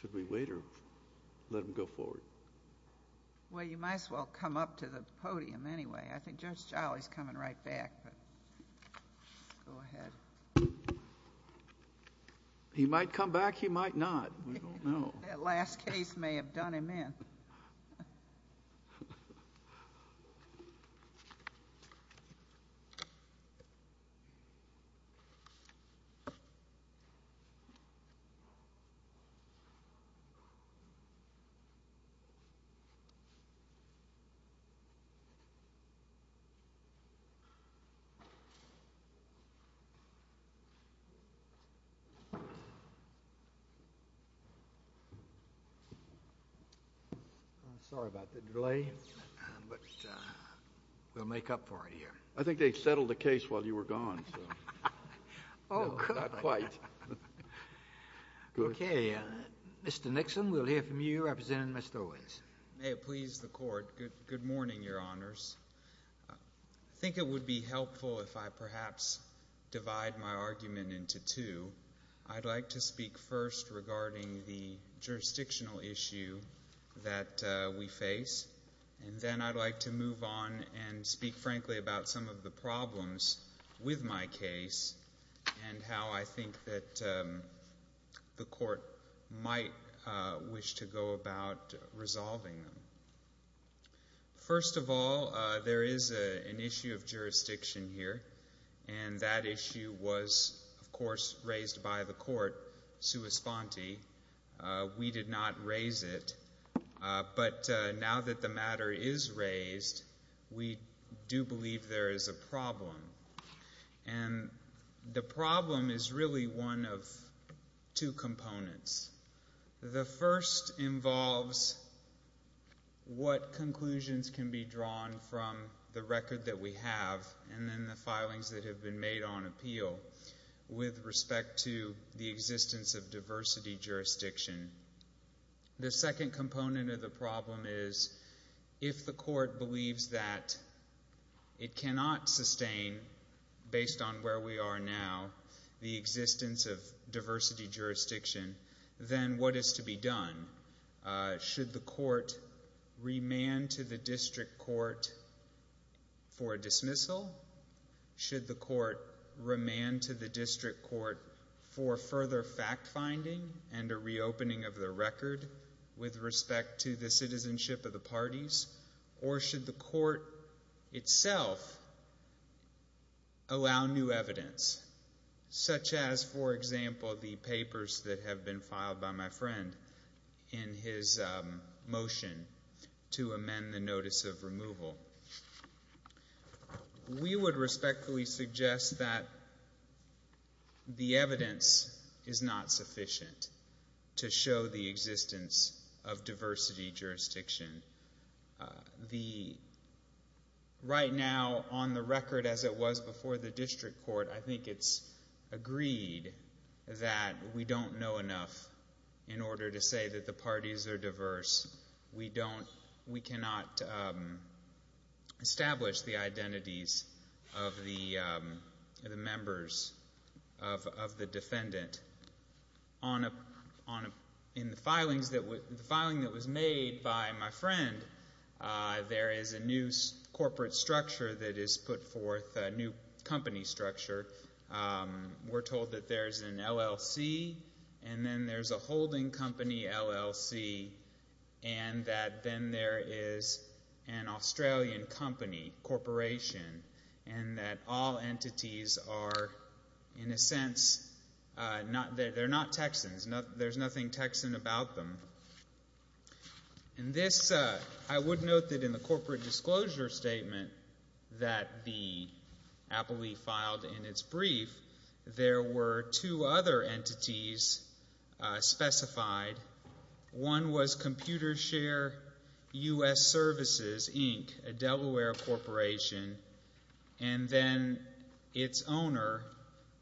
Specialized Loan Servicing Well, you might as well come up to the podium anyway. I think Judge Jolly's coming right back, but go ahead. He might come back, he might not. We don't know. That last case may have done him in. Judge Jolly. Judge Jolly. I'm sorry about the delay, but we'll make up for it here. I think they settled the case while you were gone, so not quite. Okay. Mr. Nixon, we'll hear from you representing Mr. Owens. May it please the Court. Good morning, Your Honors. I think it would be helpful if I perhaps divide my argument into two. I'd like to speak first regarding the jurisdictional issue that we face, and then I'd like to move on and speak frankly about some of the problems with my case and how I think that the Court might wish to go about resolving them. First of all, there is an issue of jurisdiction here, and that issue was, of course, raised by the Court sua sponte. We did not raise it. But now that the matter is raised, we do believe there is a problem. And the problem is really one of two components. The first involves what conclusions can be drawn from the record that we have and then the filings that have been made on appeal with respect to the existence of diversity jurisdiction. The second component of the problem is if the Court believes that it cannot sustain, based on where we are now, the existence of diversity jurisdiction, then what is to be done? Should the Court remand to the district court for a dismissal? Should the Court remand to the district court for further fact-finding and a reopening of the record with respect to the citizenship of the parties? Or should the Court itself allow new evidence, such as, for example, the papers that have been filed by my friend in his motion to amend the notice of removal? We would respectfully suggest that the evidence is not sufficient to show the existence of diversity jurisdiction. Right now, on the record as it was before the district court, I think it's agreed that we don't know enough in order to say that the parties are diverse. We cannot establish the identities of the members of the defendant in the filing that was made by my friend. There is a new corporate structure that is put forth, a new company structure. We're told that there's an LLC, and then there's a holding company LLC, and that then there is an Australian company, corporation, and that all entities are, in a sense, they're not Texans. There's nothing Texan about them. And this, I would note that in the corporate disclosure statement that the appellee filed in its brief, there were two other entities specified. One was Computer Share U.S. Services, Inc., a Delaware corporation, and then its owner,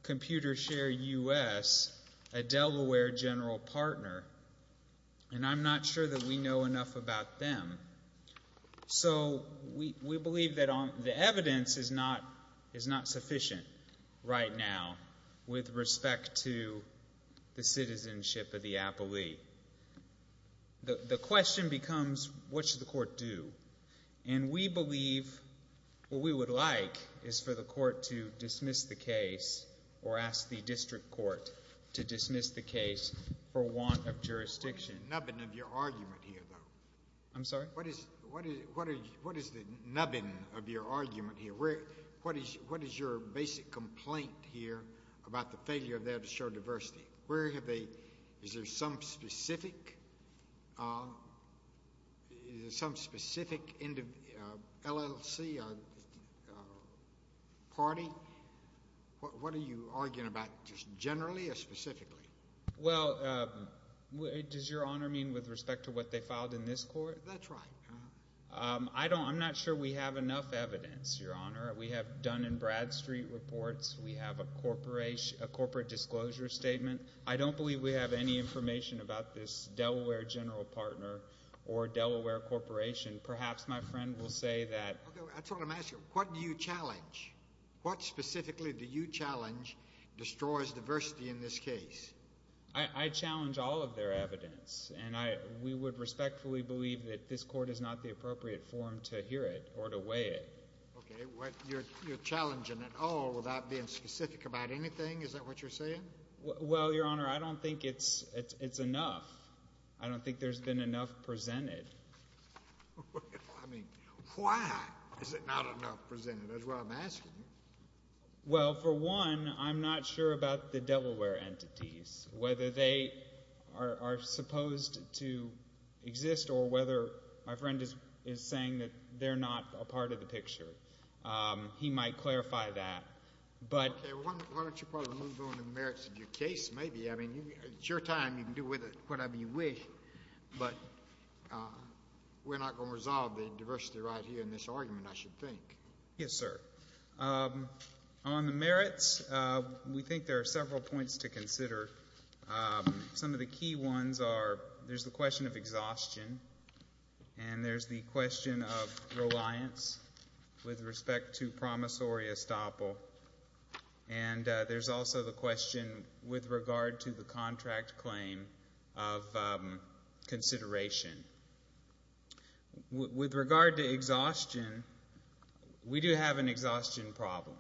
Computer Share U.S., a Delaware general partner. And I'm not sure that we know enough about them. So we believe that the evidence is not sufficient right now with respect to the citizenship of the appellee. The question becomes, what should the court do? And we believe what we would like is for the court to dismiss the case or ask the district court to dismiss the case for want of jurisdiction. What is the nubbin of your argument here, though? I'm sorry? What is the nubbin of your argument here? What is your basic complaint here about the failure of that to show diversity? Is there some specific LLC party? What are you arguing about just generally or specifically? Well, does Your Honor mean with respect to what they filed in this court? That's right. I'm not sure we have enough evidence, Your Honor. We have Dun & Bradstreet reports. We have a corporate disclosure statement. I don't believe we have any information about this Delaware general partner or Delaware corporation. Perhaps my friend will say that. I just want to ask you, what do you challenge? What specifically do you challenge destroys diversity in this case? I challenge all of their evidence. And we would respectfully believe that this court is not the appropriate forum to hear it or to weigh it. Okay. You're challenging it all without being specific about anything? Is that what you're saying? Well, Your Honor, I don't think it's enough. I don't think there's been enough presented. I mean, why is it not enough presented? That's what I'm asking you. Well, for one, I'm not sure about the Delaware entities, whether they are supposed to exist or whether my friend is saying that they're not a part of the picture. He might clarify that. Okay. Why don't you probably move on to the merits of your case maybe? I mean, it's your time. You can do whatever you wish. But we're not going to resolve the diversity right here in this argument, I should think. Yes, sir. On the merits, we think there are several points to consider. Some of the key ones are there's the question of exhaustion and there's the question of reliance with respect to promissory estoppel. And there's also the question with regard to the contract claim of consideration. With regard to exhaustion, we do have an exhaustion problem,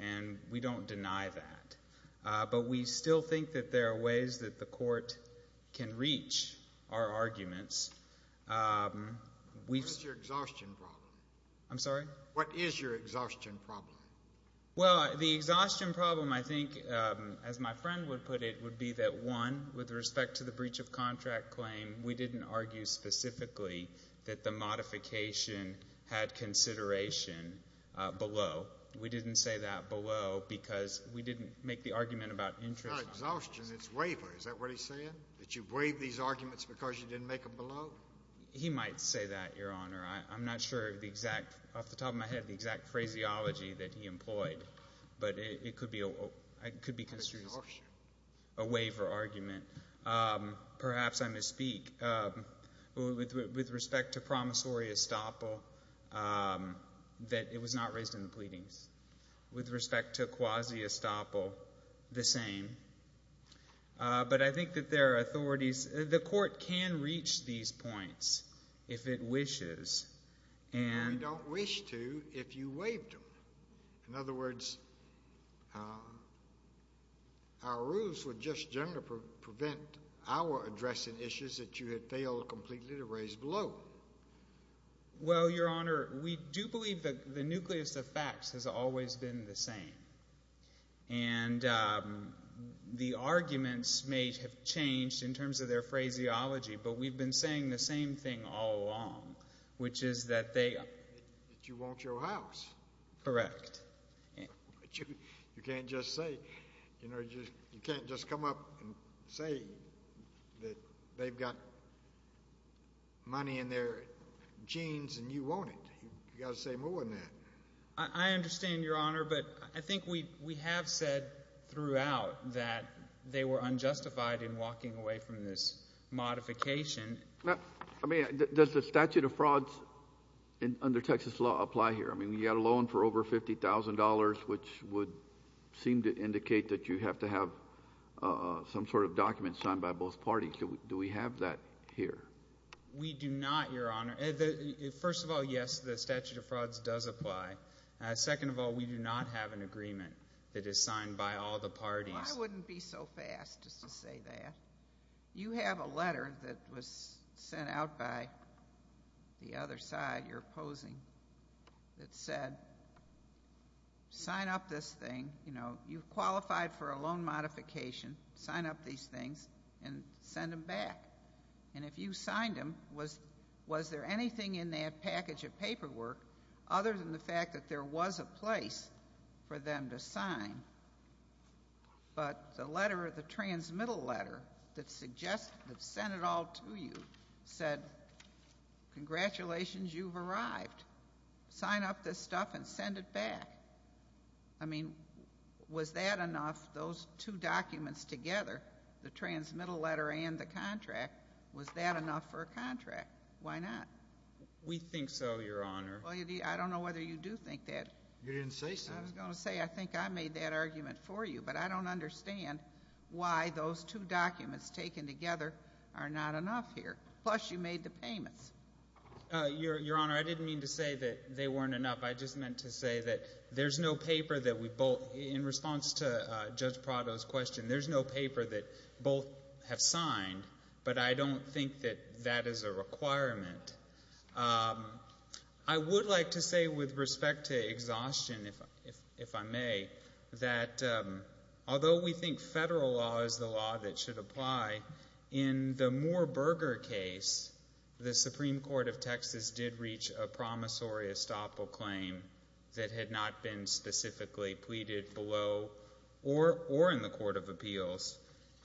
and we don't deny that. But we still think that there are ways that the court can reach our arguments. What's your exhaustion problem? I'm sorry? What is your exhaustion problem? Well, the exhaustion problem, I think, as my friend would put it, would be that, one, with respect to the breach of contract claim, we didn't argue specifically that the modification had consideration below. We didn't say that below because we didn't make the argument about interest. It's not exhaustion. It's waiver. Is that what he's saying, that you waived these arguments because you didn't make them below? He might say that, Your Honor. I'm not sure of the exact, off the top of my head, the exact phraseology that he employed. But it could be considered a waiver argument. Perhaps I misspeak. With respect to promissory estoppel, that it was not raised in the pleadings. With respect to quasi-estoppel, the same. But I think that there are authorities. The court can reach these points if it wishes. We don't wish to if you waived them. In other words, our rules would just generally prevent our addressing issues that you had failed completely to raise below. Well, Your Honor, we do believe that the nucleus of facts has always been the same. And the arguments may have changed in terms of their phraseology, but we've been saying the same thing all along, which is that they... That you want your house. Correct. But you can't just say... You know, you can't just come up and say that they've got money in their jeans and you want it. You've got to say more than that. I understand, Your Honor, but I think we have said throughout that they were unjustified in walking away from this modification. I mean, does the statute of frauds under Texas law apply here? I mean, you've got a loan for over $50,000, which would seem to indicate that you have to have some sort of document signed by both parties. Do we have that here? We do not, Your Honor. First of all, yes, the statute of frauds does apply. Second of all, we do not have an agreement that is signed by all the parties. Well, I wouldn't be so fast as to say that. You have a letter that was sent out by the other side you're opposing that said, sign up this thing. You know, you've qualified for a loan modification. Sign up these things and send them back. And if you signed them, was there anything in that package of paperwork other than the fact that there was a place for them to sign? But the letter, the transmittal letter that sent it all to you said, congratulations, you've arrived. Sign up this stuff and send it back. I mean, was that enough, those two documents together, the transmittal letter and the contract, was that enough for a contract? Why not? We think so, Your Honor. Well, I don't know whether you do think that. You didn't say so. I was going to say I think I made that argument for you, but I don't understand why those two documents taken together are not enough here. Plus, you made the payments. Your Honor, I didn't mean to say that they weren't enough. I just meant to say that there's no paper that we both, in response to Judge Prado's question, there's no paper that both have signed. But I don't think that that is a requirement. I would like to say with respect to exhaustion, if I may, that although we think federal law is the law that should apply, in the Moore-Berger case, the Supreme Court of Texas did reach a promissory estoppel claim that had not been specifically pleaded below or in the court of appeals.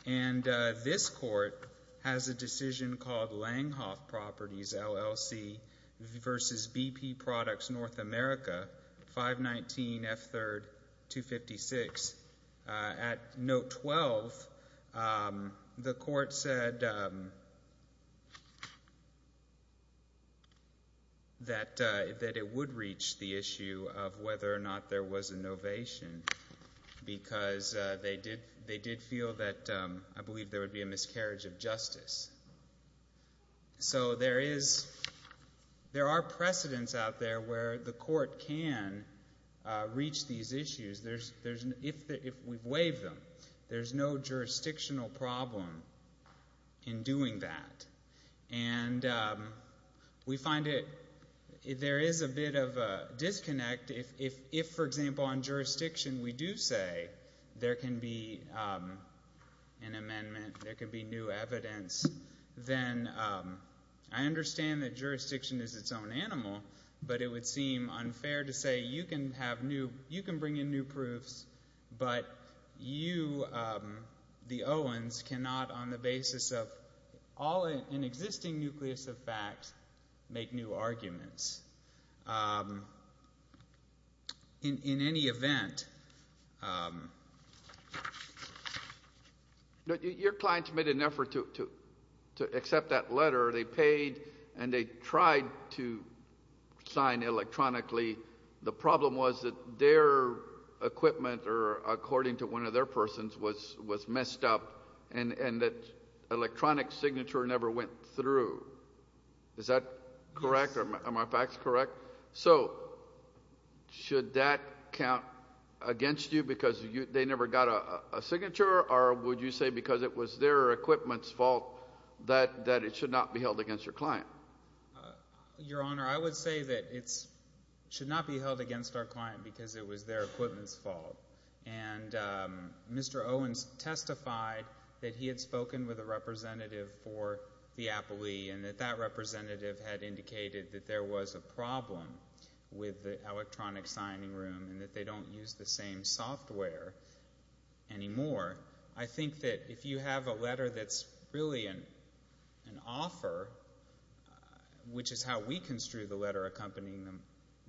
And this court has a decision called Langhoff Properties LLC v. BP Products North America 519F3256. At note 12, the court said that it would reach the issue of whether or not there was a novation because they did feel that I believe there would be a miscarriage of justice. So there are precedents out there where the court can reach these issues. If we've waived them, there's no jurisdictional problem in doing that. And we find there is a bit of a disconnect if, for example, on jurisdiction we do say there can be an amendment, there can be new evidence, then I understand that jurisdiction is its own animal, but it would seem unfair to say you can have new, you can bring in new proofs, but you, the Owens, cannot on the basis of all an existing nucleus of facts make new arguments. Your clients made an effort to accept that letter. They paid and they tried to sign electronically. The problem was that their equipment, or according to one of their persons, was messed up and that electronic signature never went through. Is that correct? Am I fact correct? So should that count against you because they never got a signature or would you say because it was their equipment's fault that it should not be held against your client? Your Honor, I would say that it should not be held against our client because it was their equipment's fault. And Mr. Owens testified that he had spoken with a representative for the appellee and that that representative had indicated that there was a problem with the electronic signing room and that they don't use the same software anymore. I think that if you have a letter that's really an offer, which is how we construe the letter accompanying the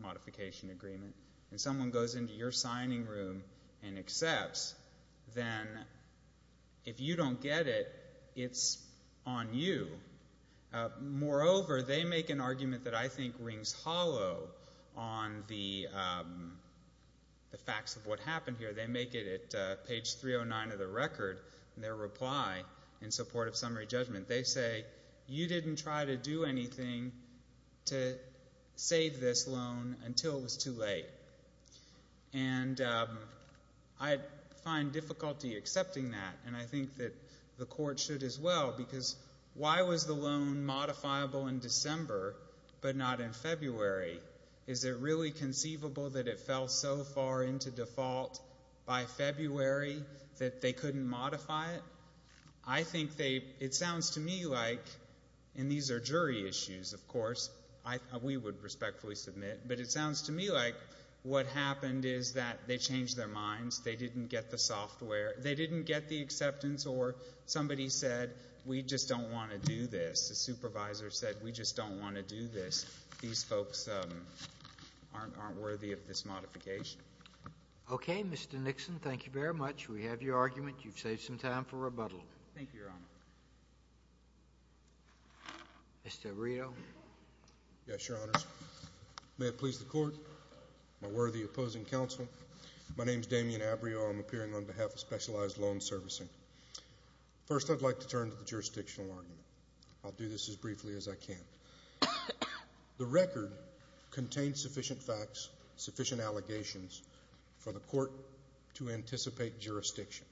modification agreement, and someone goes into your signing room and accepts, then if you don't get it, it's on you. Moreover, they make an argument that I think rings hollow on the facts of what happened here. They make it at page 309 of the record in their reply in support of summary judgment. They say, you didn't try to do anything to save this loan until it was too late. And I find difficulty accepting that, and I think that the court should as well because why was the loan modifiable in December but not in February? Is it really conceivable that it fell so far into default by February that they couldn't modify it? I think they — it sounds to me like — and these are jury issues, of course. We would respectfully submit. But it sounds to me like what happened is that they changed their minds. They didn't get the software. They didn't get the acceptance or somebody said, we just don't want to do this. The supervisor said, we just don't want to do this. These folks aren't worthy of this modification. Okay. Mr. Nixon, thank you very much. We have your argument. You've saved some time for rebuttal. Thank you, Your Honor. Mr. Arreo? Yes, Your Honors. May it please the Court, my worthy opposing counsel, my name is Damian Arreo. I'm appearing on behalf of Specialized Loan Servicing. First, I'd like to turn to the jurisdictional argument. I'll do this as briefly as I can. The record contains sufficient facts, sufficient allegations for the Court to anticipate jurisdiction.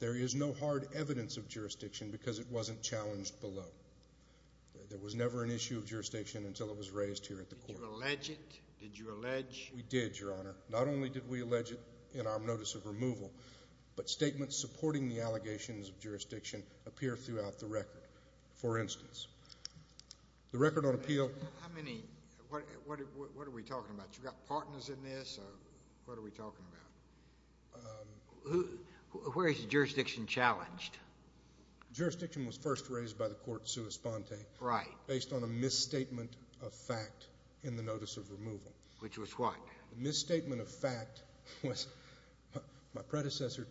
There is no hard evidence of jurisdiction because it wasn't challenged below. There was never an issue of jurisdiction until it was raised here at the Court. Did you allege it? Did you allege? We did, Your Honor. Not only did we allege it in our notice of removal, but statements supporting the allegations of jurisdiction appear throughout the record. For instance, the record on appeal. How many? What are we talking about? You've got partners in this? What are we talking about? Where is jurisdiction challenged? Jurisdiction was first raised by the court sui sponte. Right. Based on a misstatement of fact in the notice of removal. The misstatement of fact was my predecessor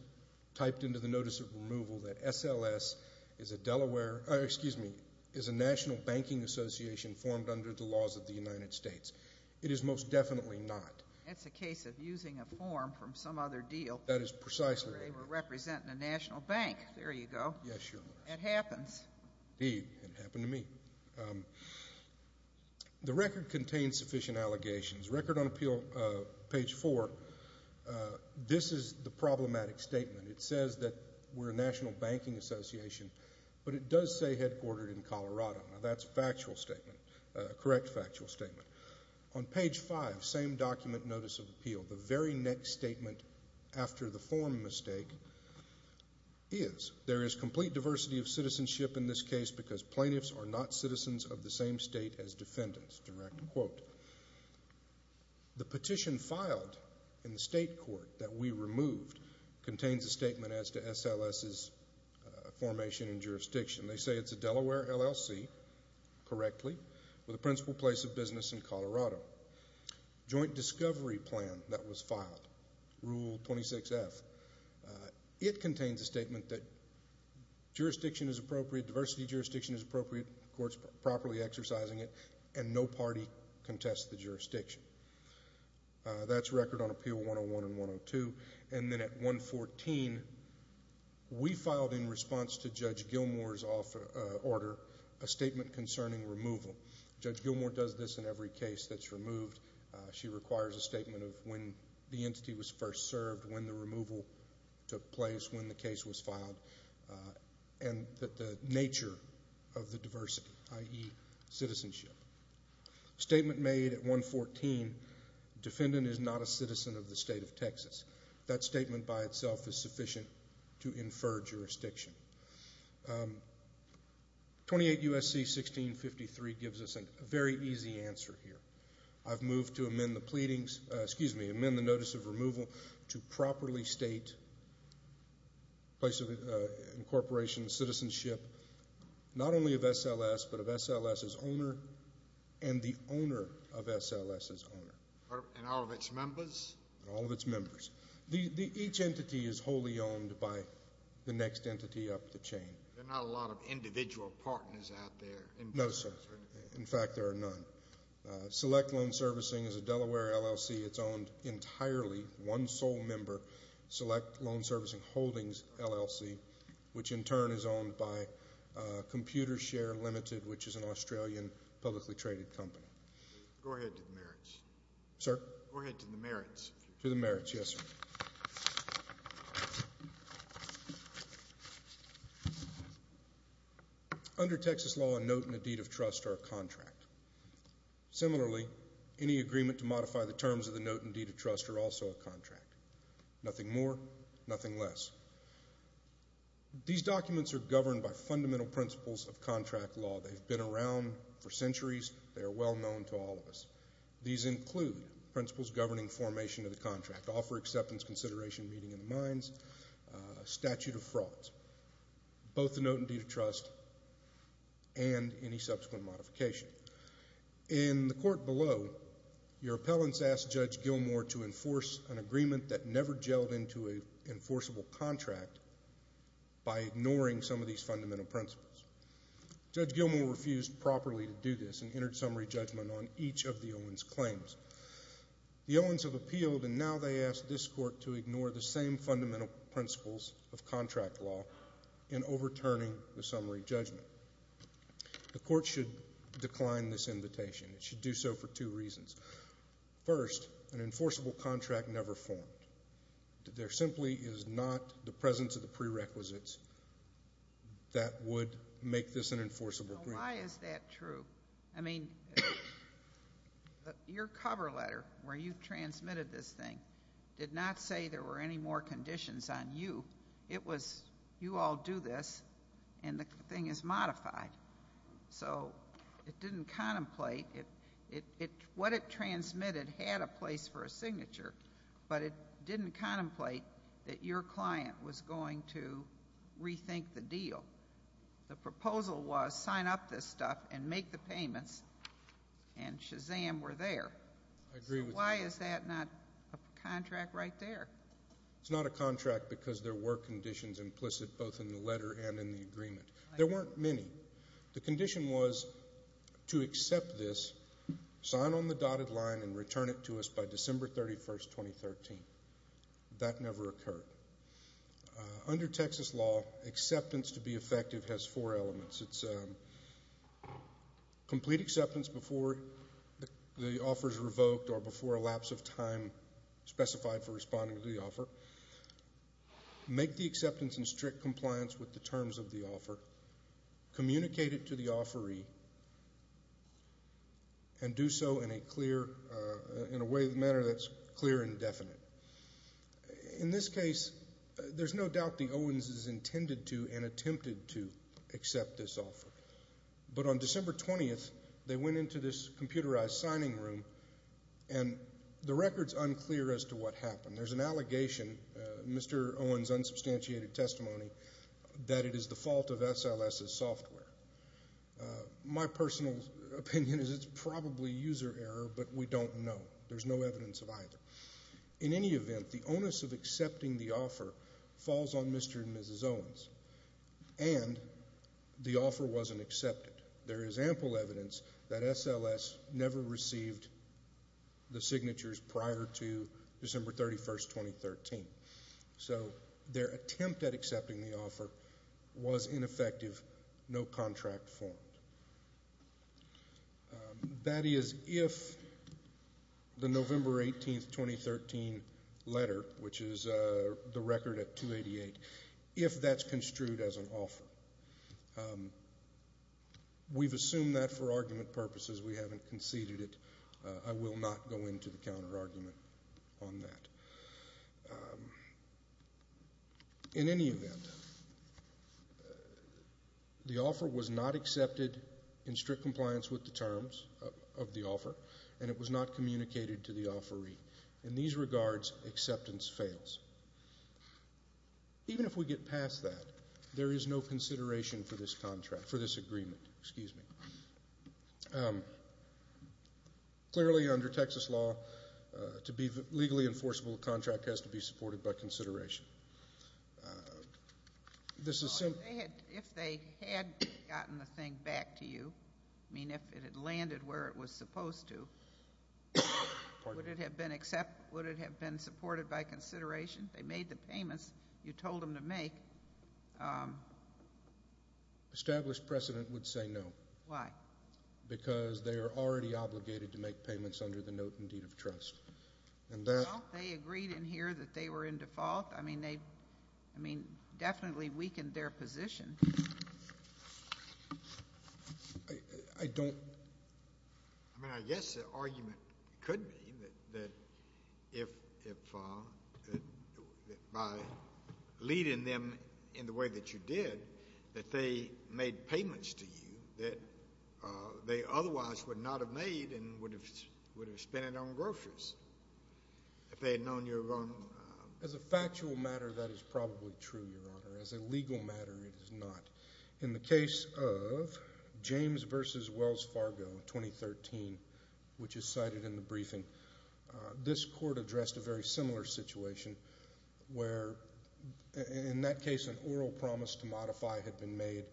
typed into the notice of removal that SLS is a Delaware or, excuse me, is a national banking association formed under the laws of the United States. It is most definitely not. That's a case of using a form from some other deal. That is precisely right. They were representing a national bank. There you go. Yes, Your Honor. It happens. Indeed, it happened to me. The record contains sufficient allegations. Record on appeal, page 4, this is the problematic statement. It says that we're a national banking association, but it does say headquartered in Colorado. Now, that's a factual statement, a correct factual statement. On page 5, same document notice of appeal, the very next statement after the form mistake is, there is complete diversity of citizenship in this case because plaintiffs are not citizens of the same state as defendants. Direct quote. The petition filed in the state court that we removed contains a statement as to SLS's formation and jurisdiction. They say it's a Delaware LLC, correctly, with a principal place of business in Colorado. Joint discovery plan that was filed, Rule 26F, it contains a statement that jurisdiction is appropriate, diversity of jurisdiction is appropriate, the court's properly exercising it, and no party contests the jurisdiction. That's record on appeal 101 and 102. And then at 114, we filed in response to Judge Gilmour's order a statement concerning removal. Judge Gilmour does this in every case that's removed. She requires a statement of when the entity was first served, when the removal took place, when the case was filed, and that the nature of the diversity, i.e. citizenship. Statement made at 114, defendant is not a citizen of the state of Texas. That statement by itself is sufficient to infer jurisdiction. 28 U.S.C. 1653 gives us a very easy answer here. I've moved to amend the notice of removal to properly state place of incorporation, citizenship, not only of SLS, but of SLS's owner and the owner of SLS's owner. And all of its members? All of its members. Each entity is wholly owned by the next entity up the chain. There are not a lot of individual partners out there. No, sir. In fact, there are none. Select Loan Servicing is a Delaware LLC. It's owned entirely, one sole member, Select Loan Servicing Holdings LLC, which in turn is owned by Computer Share Limited, which is an Australian publicly traded company. Go ahead to the merits. Sir? Go ahead to the merits. To the merits, yes, sir. Under Texas law, a note and a deed of trust are a contract. Similarly, any agreement to modify the terms of the note and deed of trust are also a contract. Nothing more, nothing less. These documents are governed by fundamental principles of contract law. They've been around for centuries. They are well known to all of us. These include principles governing formation of the contract, offer acceptance, consideration, meeting of the minds, statute of frauds, both the note and deed of trust and any subsequent modification. In the court below, your appellants asked Judge Gilmour to enforce an agreement that never gelled into an enforceable contract by ignoring some of these fundamental principles. Judge Gilmour refused properly to do this and entered summary judgment on each of the owens' claims. The owens have appealed, and now they ask this court to ignore the same fundamental principles of contract law in overturning the summary judgment. The court should decline this invitation. It should do so for two reasons. First, an enforceable contract never formed. There simply is not the presence of the prerequisites that would make this an enforceable agreement. Why is that true? I mean, your cover letter, where you transmitted this thing, did not say there were any more conditions on you. It was, you all do this, and the thing is modified. So it didn't contemplate. What it transmitted had a place for a signature, but it didn't contemplate that your client was going to rethink the deal. The proposal was sign up this stuff and make the payments, and Shazam! were there. I agree with you. So why is that not a contract right there? It's not a contract because there were conditions implicit both in the letter and in the agreement. There weren't many. The condition was to accept this, sign on the dotted line, and return it to us by December 31, 2013. That never occurred. Under Texas law, acceptance to be effective has four elements. It's complete acceptance before the offer is revoked or before a lapse of time specified for responding to the offer, make the acceptance in strict compliance with the terms of the offer, communicate it to the offeree, and do so in a way that's clear and definite. In this case, there's no doubt the Owens' intended to and attempted to accept this offer. But on December 20, they went into this computerized signing room, and the record's unclear as to what happened. There's an allegation, Mr. Owens' unsubstantiated testimony, that it is the fault of SLS's software. My personal opinion is it's probably user error, but we don't know. There's no evidence of either. In any event, the onus of accepting the offer falls on Mr. and Mrs. Owens, and the offer wasn't accepted. There is ample evidence that SLS never received the signatures prior to December 31, 2013. So their attempt at accepting the offer was ineffective. No contract formed. That is, if the November 18, 2013 letter, which is the record at 288, if that's construed as an offer. We've assumed that for argument purposes. We haven't conceded it. I will not go into the counterargument on that. In any event, the offer was not accepted in strict compliance with the terms of the offer, and it was not communicated to the offeree. In these regards, acceptance fails. Even if we get past that, there is no consideration for this contract, for this agreement. Excuse me. Clearly, under Texas law, to be legally enforceable, a contract has to be supported by consideration. If they had gotten the thing back to you, I mean, if it had landed where it was supposed to, would it have been supported by consideration? They made the payments you told them to make. Established precedent would say no. Why? Because they are already obligated to make payments under the note and deed of trust. Well, they agreed in here that they were in default. I mean, they definitely weakened their position. I don't. I mean, I guess the argument could be that if by leading them in the way that you did, that they made payments to you that they otherwise would not have made and would have spent it on groceries if they had known you were going to. As a factual matter, that is probably true, Your Honor. As a legal matter, it is not. In the case of James v. Wells Fargo, 2013, which is cited in the briefing, this court addressed a very similar situation where, in that case, an oral promise to modify had been made,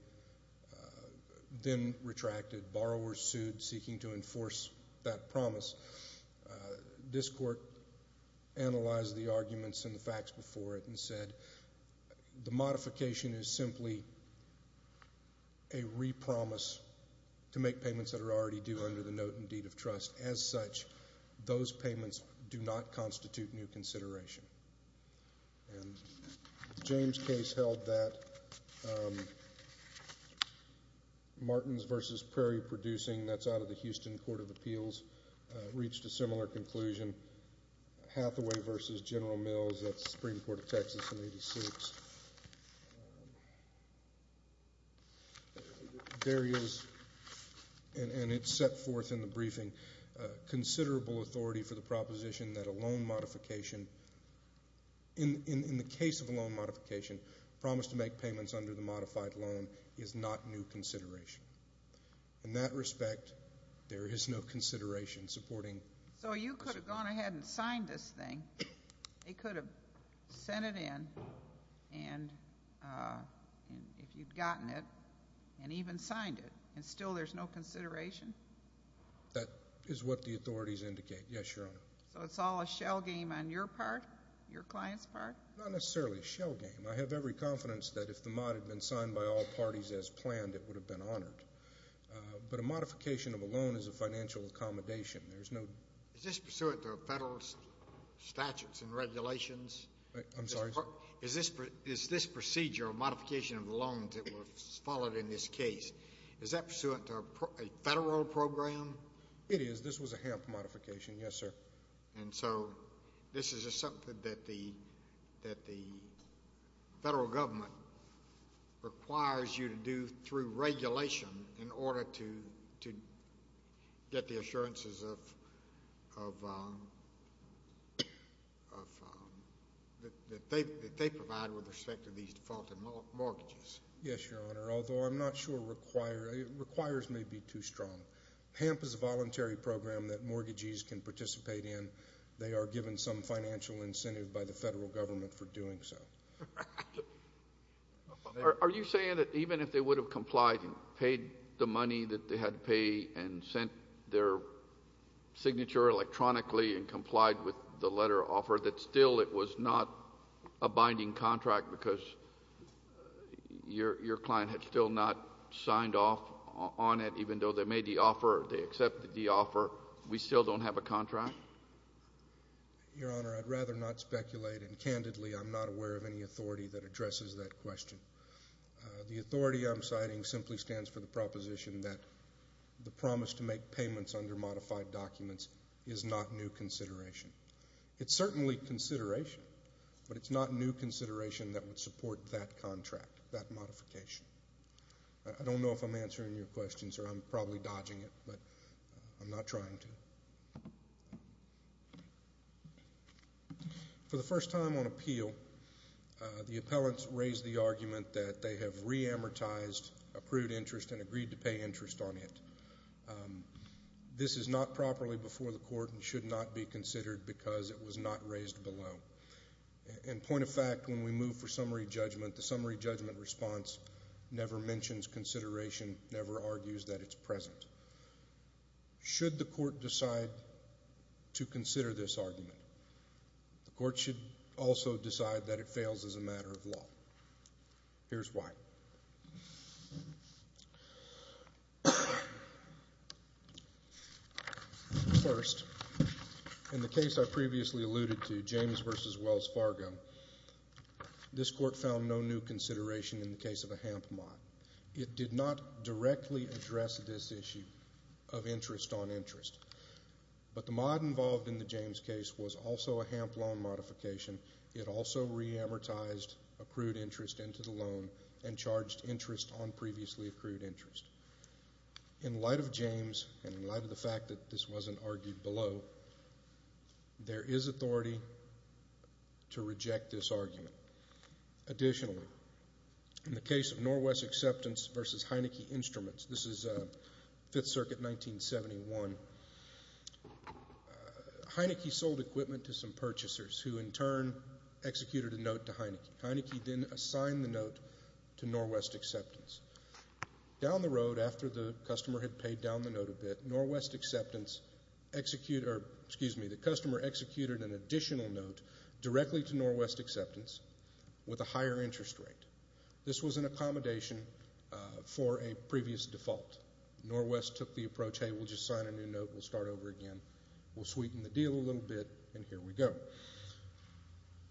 then retracted. Borrowers sued seeking to enforce that promise. This court analyzed the arguments and the facts before it and said the modification is simply a re-promise to make payments that are already due under the note and deed of trust. As such, those payments do not constitute new consideration. And the James case held that. Martins v. Prairie Producing, that's out of the Houston Court of Appeals, reached a similar conclusion. Hathaway v. General Mills at the Supreme Court of Texas in 1986. There is, and it's set forth in the briefing, considerable authority for the proposition that a loan modification, in the case of a loan modification, promise to make payments under the modified loan is not new consideration. In that respect, there is no consideration supporting. So you could have gone ahead and signed this thing. They could have sent it in, if you'd gotten it, and even signed it, and still there's no consideration? That is what the authorities indicate, yes, Your Honor. So it's all a shell game on your part, your client's part? Not necessarily a shell game. I have every confidence that if the mod had been signed by all parties as planned, it would have been honored. But a modification of a loan is a financial accommodation. Is this pursuant to federal statutes and regulations? I'm sorry? Is this procedure of modification of loans that was followed in this case, is that pursuant to a federal program? It is. This was a HAMP modification, yes, sir. And so this is something that the federal government requires you to do through regulation in order to get the assurances that they provide with respect to these defaulted mortgages? Yes, Your Honor, although I'm not sure it requires may be too strong. HAMP is a voluntary program that mortgages can participate in. They are given some financial incentive by the federal government for doing so. Are you saying that even if they would have complied and paid the money that they had to pay and sent their signature electronically and complied with the letter of offer, that still it was not a binding contract because your client had still not signed off on it, even though they made the offer or they accepted the offer, we still don't have a contract? Your Honor, I'd rather not speculate, and candidly I'm not aware of any authority that addresses that question. The authority I'm citing simply stands for the proposition that the promise to make payments under modified documents is not new consideration. It's certainly consideration, but it's not new consideration that would support that contract, that modification. I don't know if I'm answering your question, sir. I'm probably dodging it, but I'm not trying to. For the first time on appeal, the appellants raised the argument that they have re-amortized accrued interest and agreed to pay interest on it. This is not properly before the court and should not be considered because it was not raised below. In point of fact, when we move for summary judgment, the summary judgment response never mentions consideration, never argues that it's present. Should the court decide to consider this argument, the court should also decide that it fails as a matter of law. Here's why. First, in the case I previously alluded to, James v. Wells Fargo, this court found no new consideration in the case of a HAMP mod. It did not directly address this issue of interest on interest, but the mod involved in the James case was also a HAMP loan modification. It also re-amortized accrued interest into the loan and charged interest on previously accrued interest. In light of James and in light of the fact that this wasn't argued below, there is authority to reject this argument. Additionally, in the case of Norwest Acceptance v. Heineke Instruments, this is Fifth Circuit, 1971, Heineke sold equipment to some purchasers who, in turn, executed a note to Heineke. Heineke then assigned the note to Norwest Acceptance. Down the road, after the customer had paid down the note a bit, Norwest Acceptance executed an additional note directly to Norwest Acceptance with a higher interest rate. This was an accommodation for a previous default. Norwest took the approach, hey, we'll just sign a new note, we'll start over again, we'll sweeten the deal a little bit, and here we go.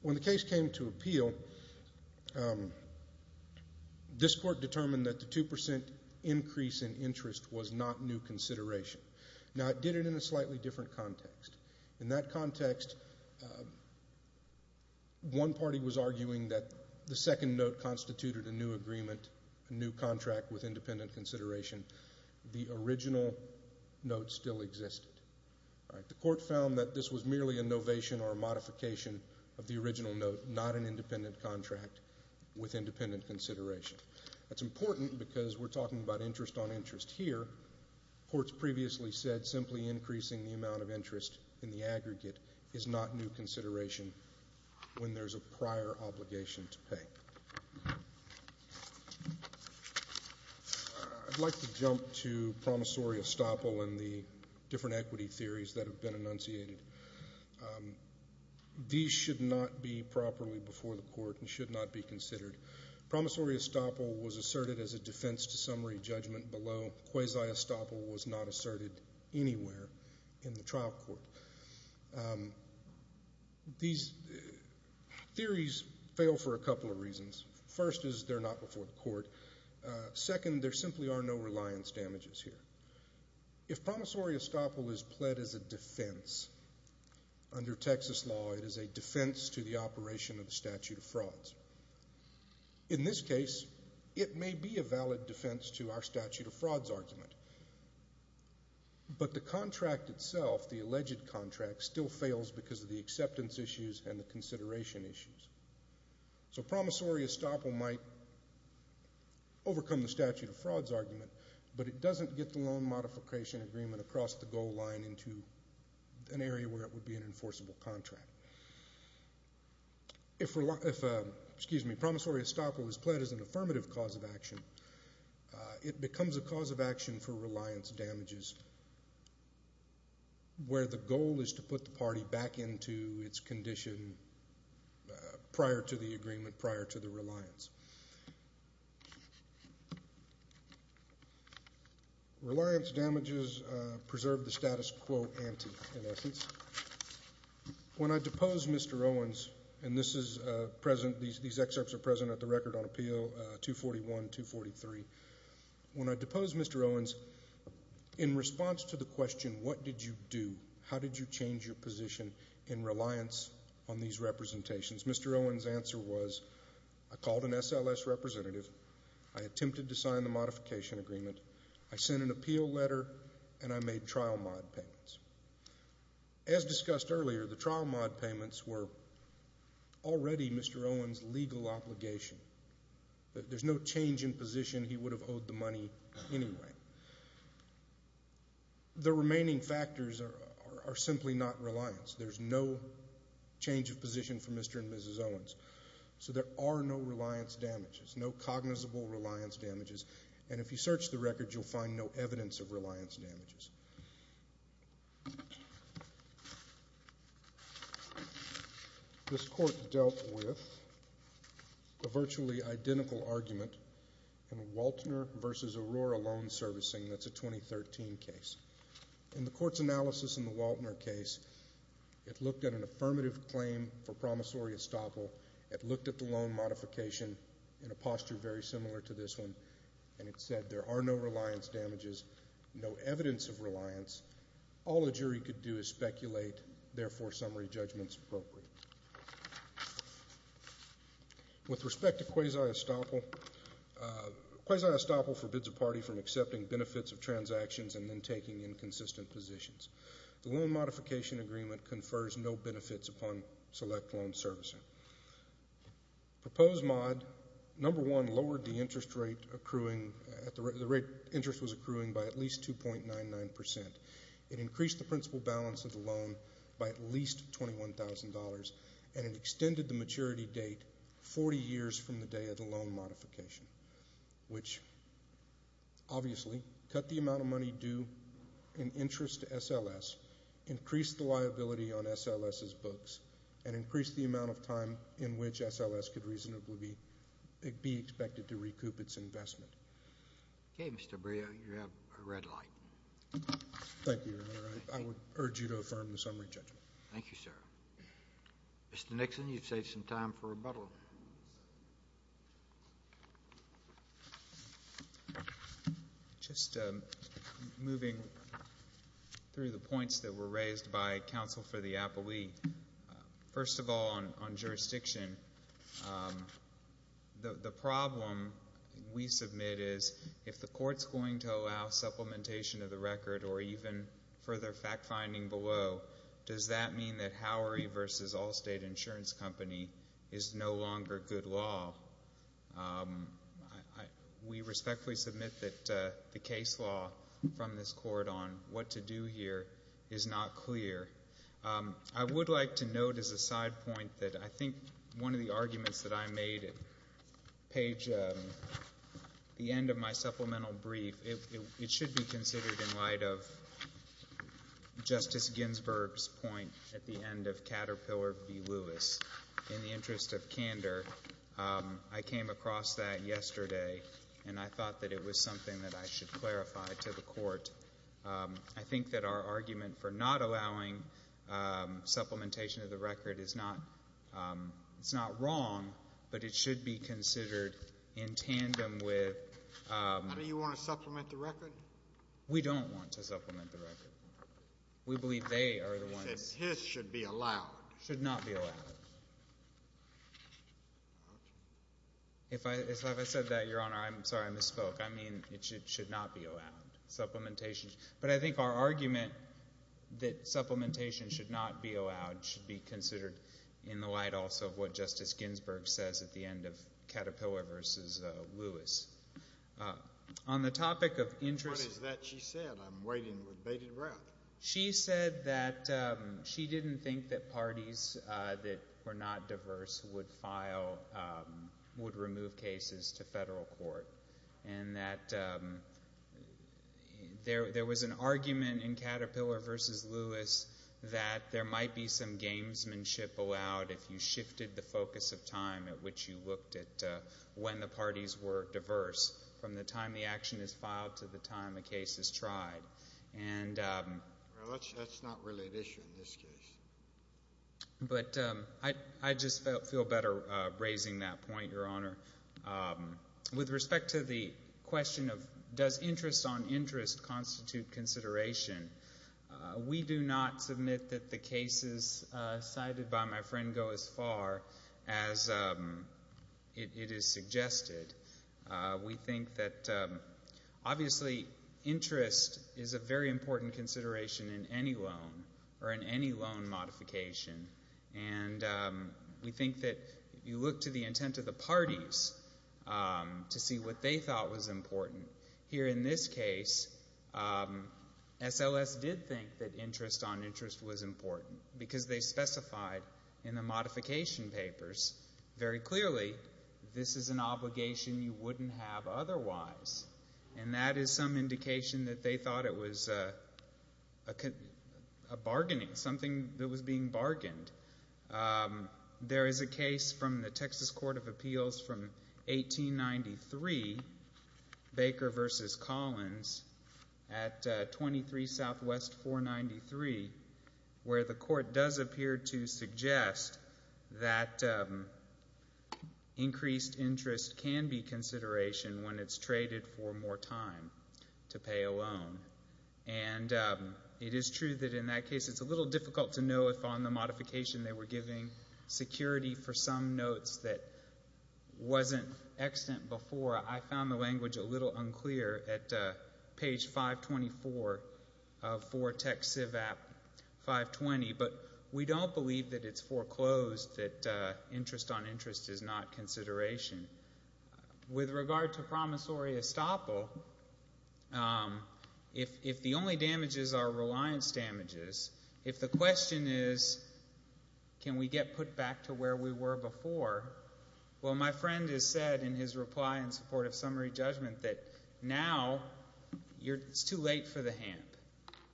When the case came to appeal, this court determined that the 2% increase in interest was not new consideration. Now, it did it in a slightly different context. In that context, one party was arguing that the second note constituted a new agreement, a new contract with independent consideration. The original note still existed. The court found that this was merely a novation or a modification of the original note, not an independent contract with independent consideration. That's important because we're talking about interest on interest here. Courts previously said simply increasing the amount of interest in the aggregate is not new consideration when there's a prior obligation to pay. I'd like to jump to promissory estoppel and the different equity theories that have been enunciated. These should not be properly before the court and should not be considered. Promissory estoppel was asserted as a defense to summary judgment below. Quasi-estoppel was not asserted anywhere in the trial court. These theories fail for a couple of reasons. First is they're not before the court. Second, there simply are no reliance damages here. If promissory estoppel is pled as a defense under Texas law, it is a defense to the operation of the statute of frauds. In this case, it may be a valid defense to our statute of frauds argument, but the contract itself, the alleged contract, still fails because of the acceptance issues and the consideration issues. So promissory estoppel might overcome the statute of frauds argument, but it doesn't get the loan modification agreement across the goal line into an area where it would be an enforceable contract. If promissory estoppel is pled as an affirmative cause of action, it becomes a cause of action for reliance damages, where the goal is to put the party back into its condition prior to the agreement, prior to the reliance. Reliance damages preserve the status quo ante, in essence. When I depose Mr. Owens, and this is present, these excerpts are present at the record on appeal 241, 243. When I depose Mr. Owens, in response to the question, what did you do? How did you change your position in reliance on these representations? Mr. Owens' answer was, I called an SLS representative. I attempted to sign the modification agreement. I sent an appeal letter, and I made trial mod payments. As discussed earlier, the trial mod payments were already Mr. Owens' legal obligation. There's no change in position. He would have owed the money anyway. The remaining factors are simply not reliance. There's no change of position for Mr. and Mrs. Owens. So there are no reliance damages, no cognizable reliance damages, and if you search the record, you'll find no evidence of reliance damages. This court dealt with a virtually identical argument in Waltner v. Aurora loan servicing. That's a 2013 case. In the court's analysis in the Waltner case, it looked at an affirmative claim for promissory estoppel. It looked at the loan modification in a posture very similar to this one, and it said there are no reliance damages, no evidence of reliance. All a jury could do is speculate. Therefore, summary judgment's appropriate. With respect to quasi-estoppel, quasi-estoppel forbids a party from accepting benefits of transactions and then taking inconsistent positions. The loan modification agreement confers no benefits upon select loan servicing. Proposed mod, number one, lowered the interest rate accruing at the rate interest was accruing by at least 2.99%. It increased the principal balance of the loan by at least $21,000, and it extended the maturity date 40 years from the day of the loan modification, which obviously cut the amount of money due in interest to SLS, increased the liability on SLS's books, and increased the amount of time in which SLS could reasonably be expected to recoup its investment. Okay, Mr. Bria, you have a red light. Thank you, Your Honor. I would urge you to affirm the summary judgment. Thank you, sir. Mr. Nixon, you've saved some time for rebuttal. Just moving through the points that were raised by counsel for the appellee, first of all on jurisdiction, the problem we submit is if the court's going to allow supplementation of the record or even further fact-finding below, does that mean that Howery v. Allstate Insurance Company is no longer good law? We respectfully submit that the case law from this court on what to do here is not clear. I would like to note as a side point that I think one of the arguments that I made, page the end of my supplemental brief, it should be considered in light of Justice Ginsburg's point at the end of Caterpillar v. Lewis. In the interest of candor, I came across that yesterday, and I thought that it was something that I should clarify to the court. I think that our argument for not allowing supplementation of the record is not wrong, but it should be considered in tandem with— How do you want to supplement the record? We don't want to supplement the record. We believe they are the ones— He says his should be allowed. Should not be allowed. If I said that, Your Honor, I'm sorry, I misspoke. I mean it should not be allowed, supplementation. But I think our argument that supplementation should not be allowed should be considered in the light also of what Justice Ginsburg says at the end of Caterpillar v. Lewis. On the topic of— What is that she said? I'm waiting with bated breath. She said that she didn't think that parties that were not diverse would file, would remove cases to federal court and that there was an argument in Caterpillar v. Lewis that there might be some gamesmanship allowed if you shifted the focus of time at which you looked at when the parties were diverse from the time the action is filed to the time a case is tried. And— That's not really an issue in this case. But I just feel better raising that point, Your Honor. With respect to the question of does interest on interest constitute consideration, we do not submit that the cases cited by my friend go as far as it is suggested. We think that obviously interest is a very important consideration in any loan or in any loan modification. And we think that you look to the intent of the parties to see what they thought was important. Here in this case, SLS did think that interest on interest was important because they specified in the modification papers very clearly this is an obligation you wouldn't have otherwise. And that is some indication that they thought it was a bargaining, something that was being bargained. There is a case from the Texas Court of Appeals from 1893, Baker v. Collins, at 23 Southwest 493, where the court does appear to suggest that increased interest can be consideration when it's traded for more time to pay a loan. And it is true that in that case it's a little difficult to know if on the modification they were giving security for some notes that wasn't extant before. I found the language a little unclear at page 524 of 4 Tech Civ App 520. But we don't believe that it's foreclosed that interest on interest is not consideration. With regard to promissory estoppel, if the only damages are reliance damages, if the question is can we get put back to where we were before, well, my friend has said in his reply in support of summary judgment that now it's too late for the hamp.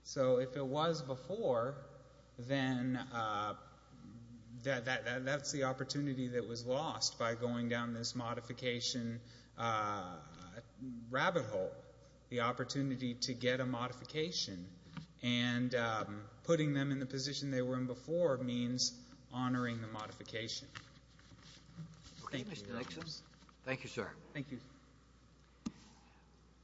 So if it was before, then that's the opportunity that was lost by going down this modification rabbit hole, the opportunity to get a modification. And putting them in the position they were in before means honoring the modification. Thank you. Thank you, sir. Thank you.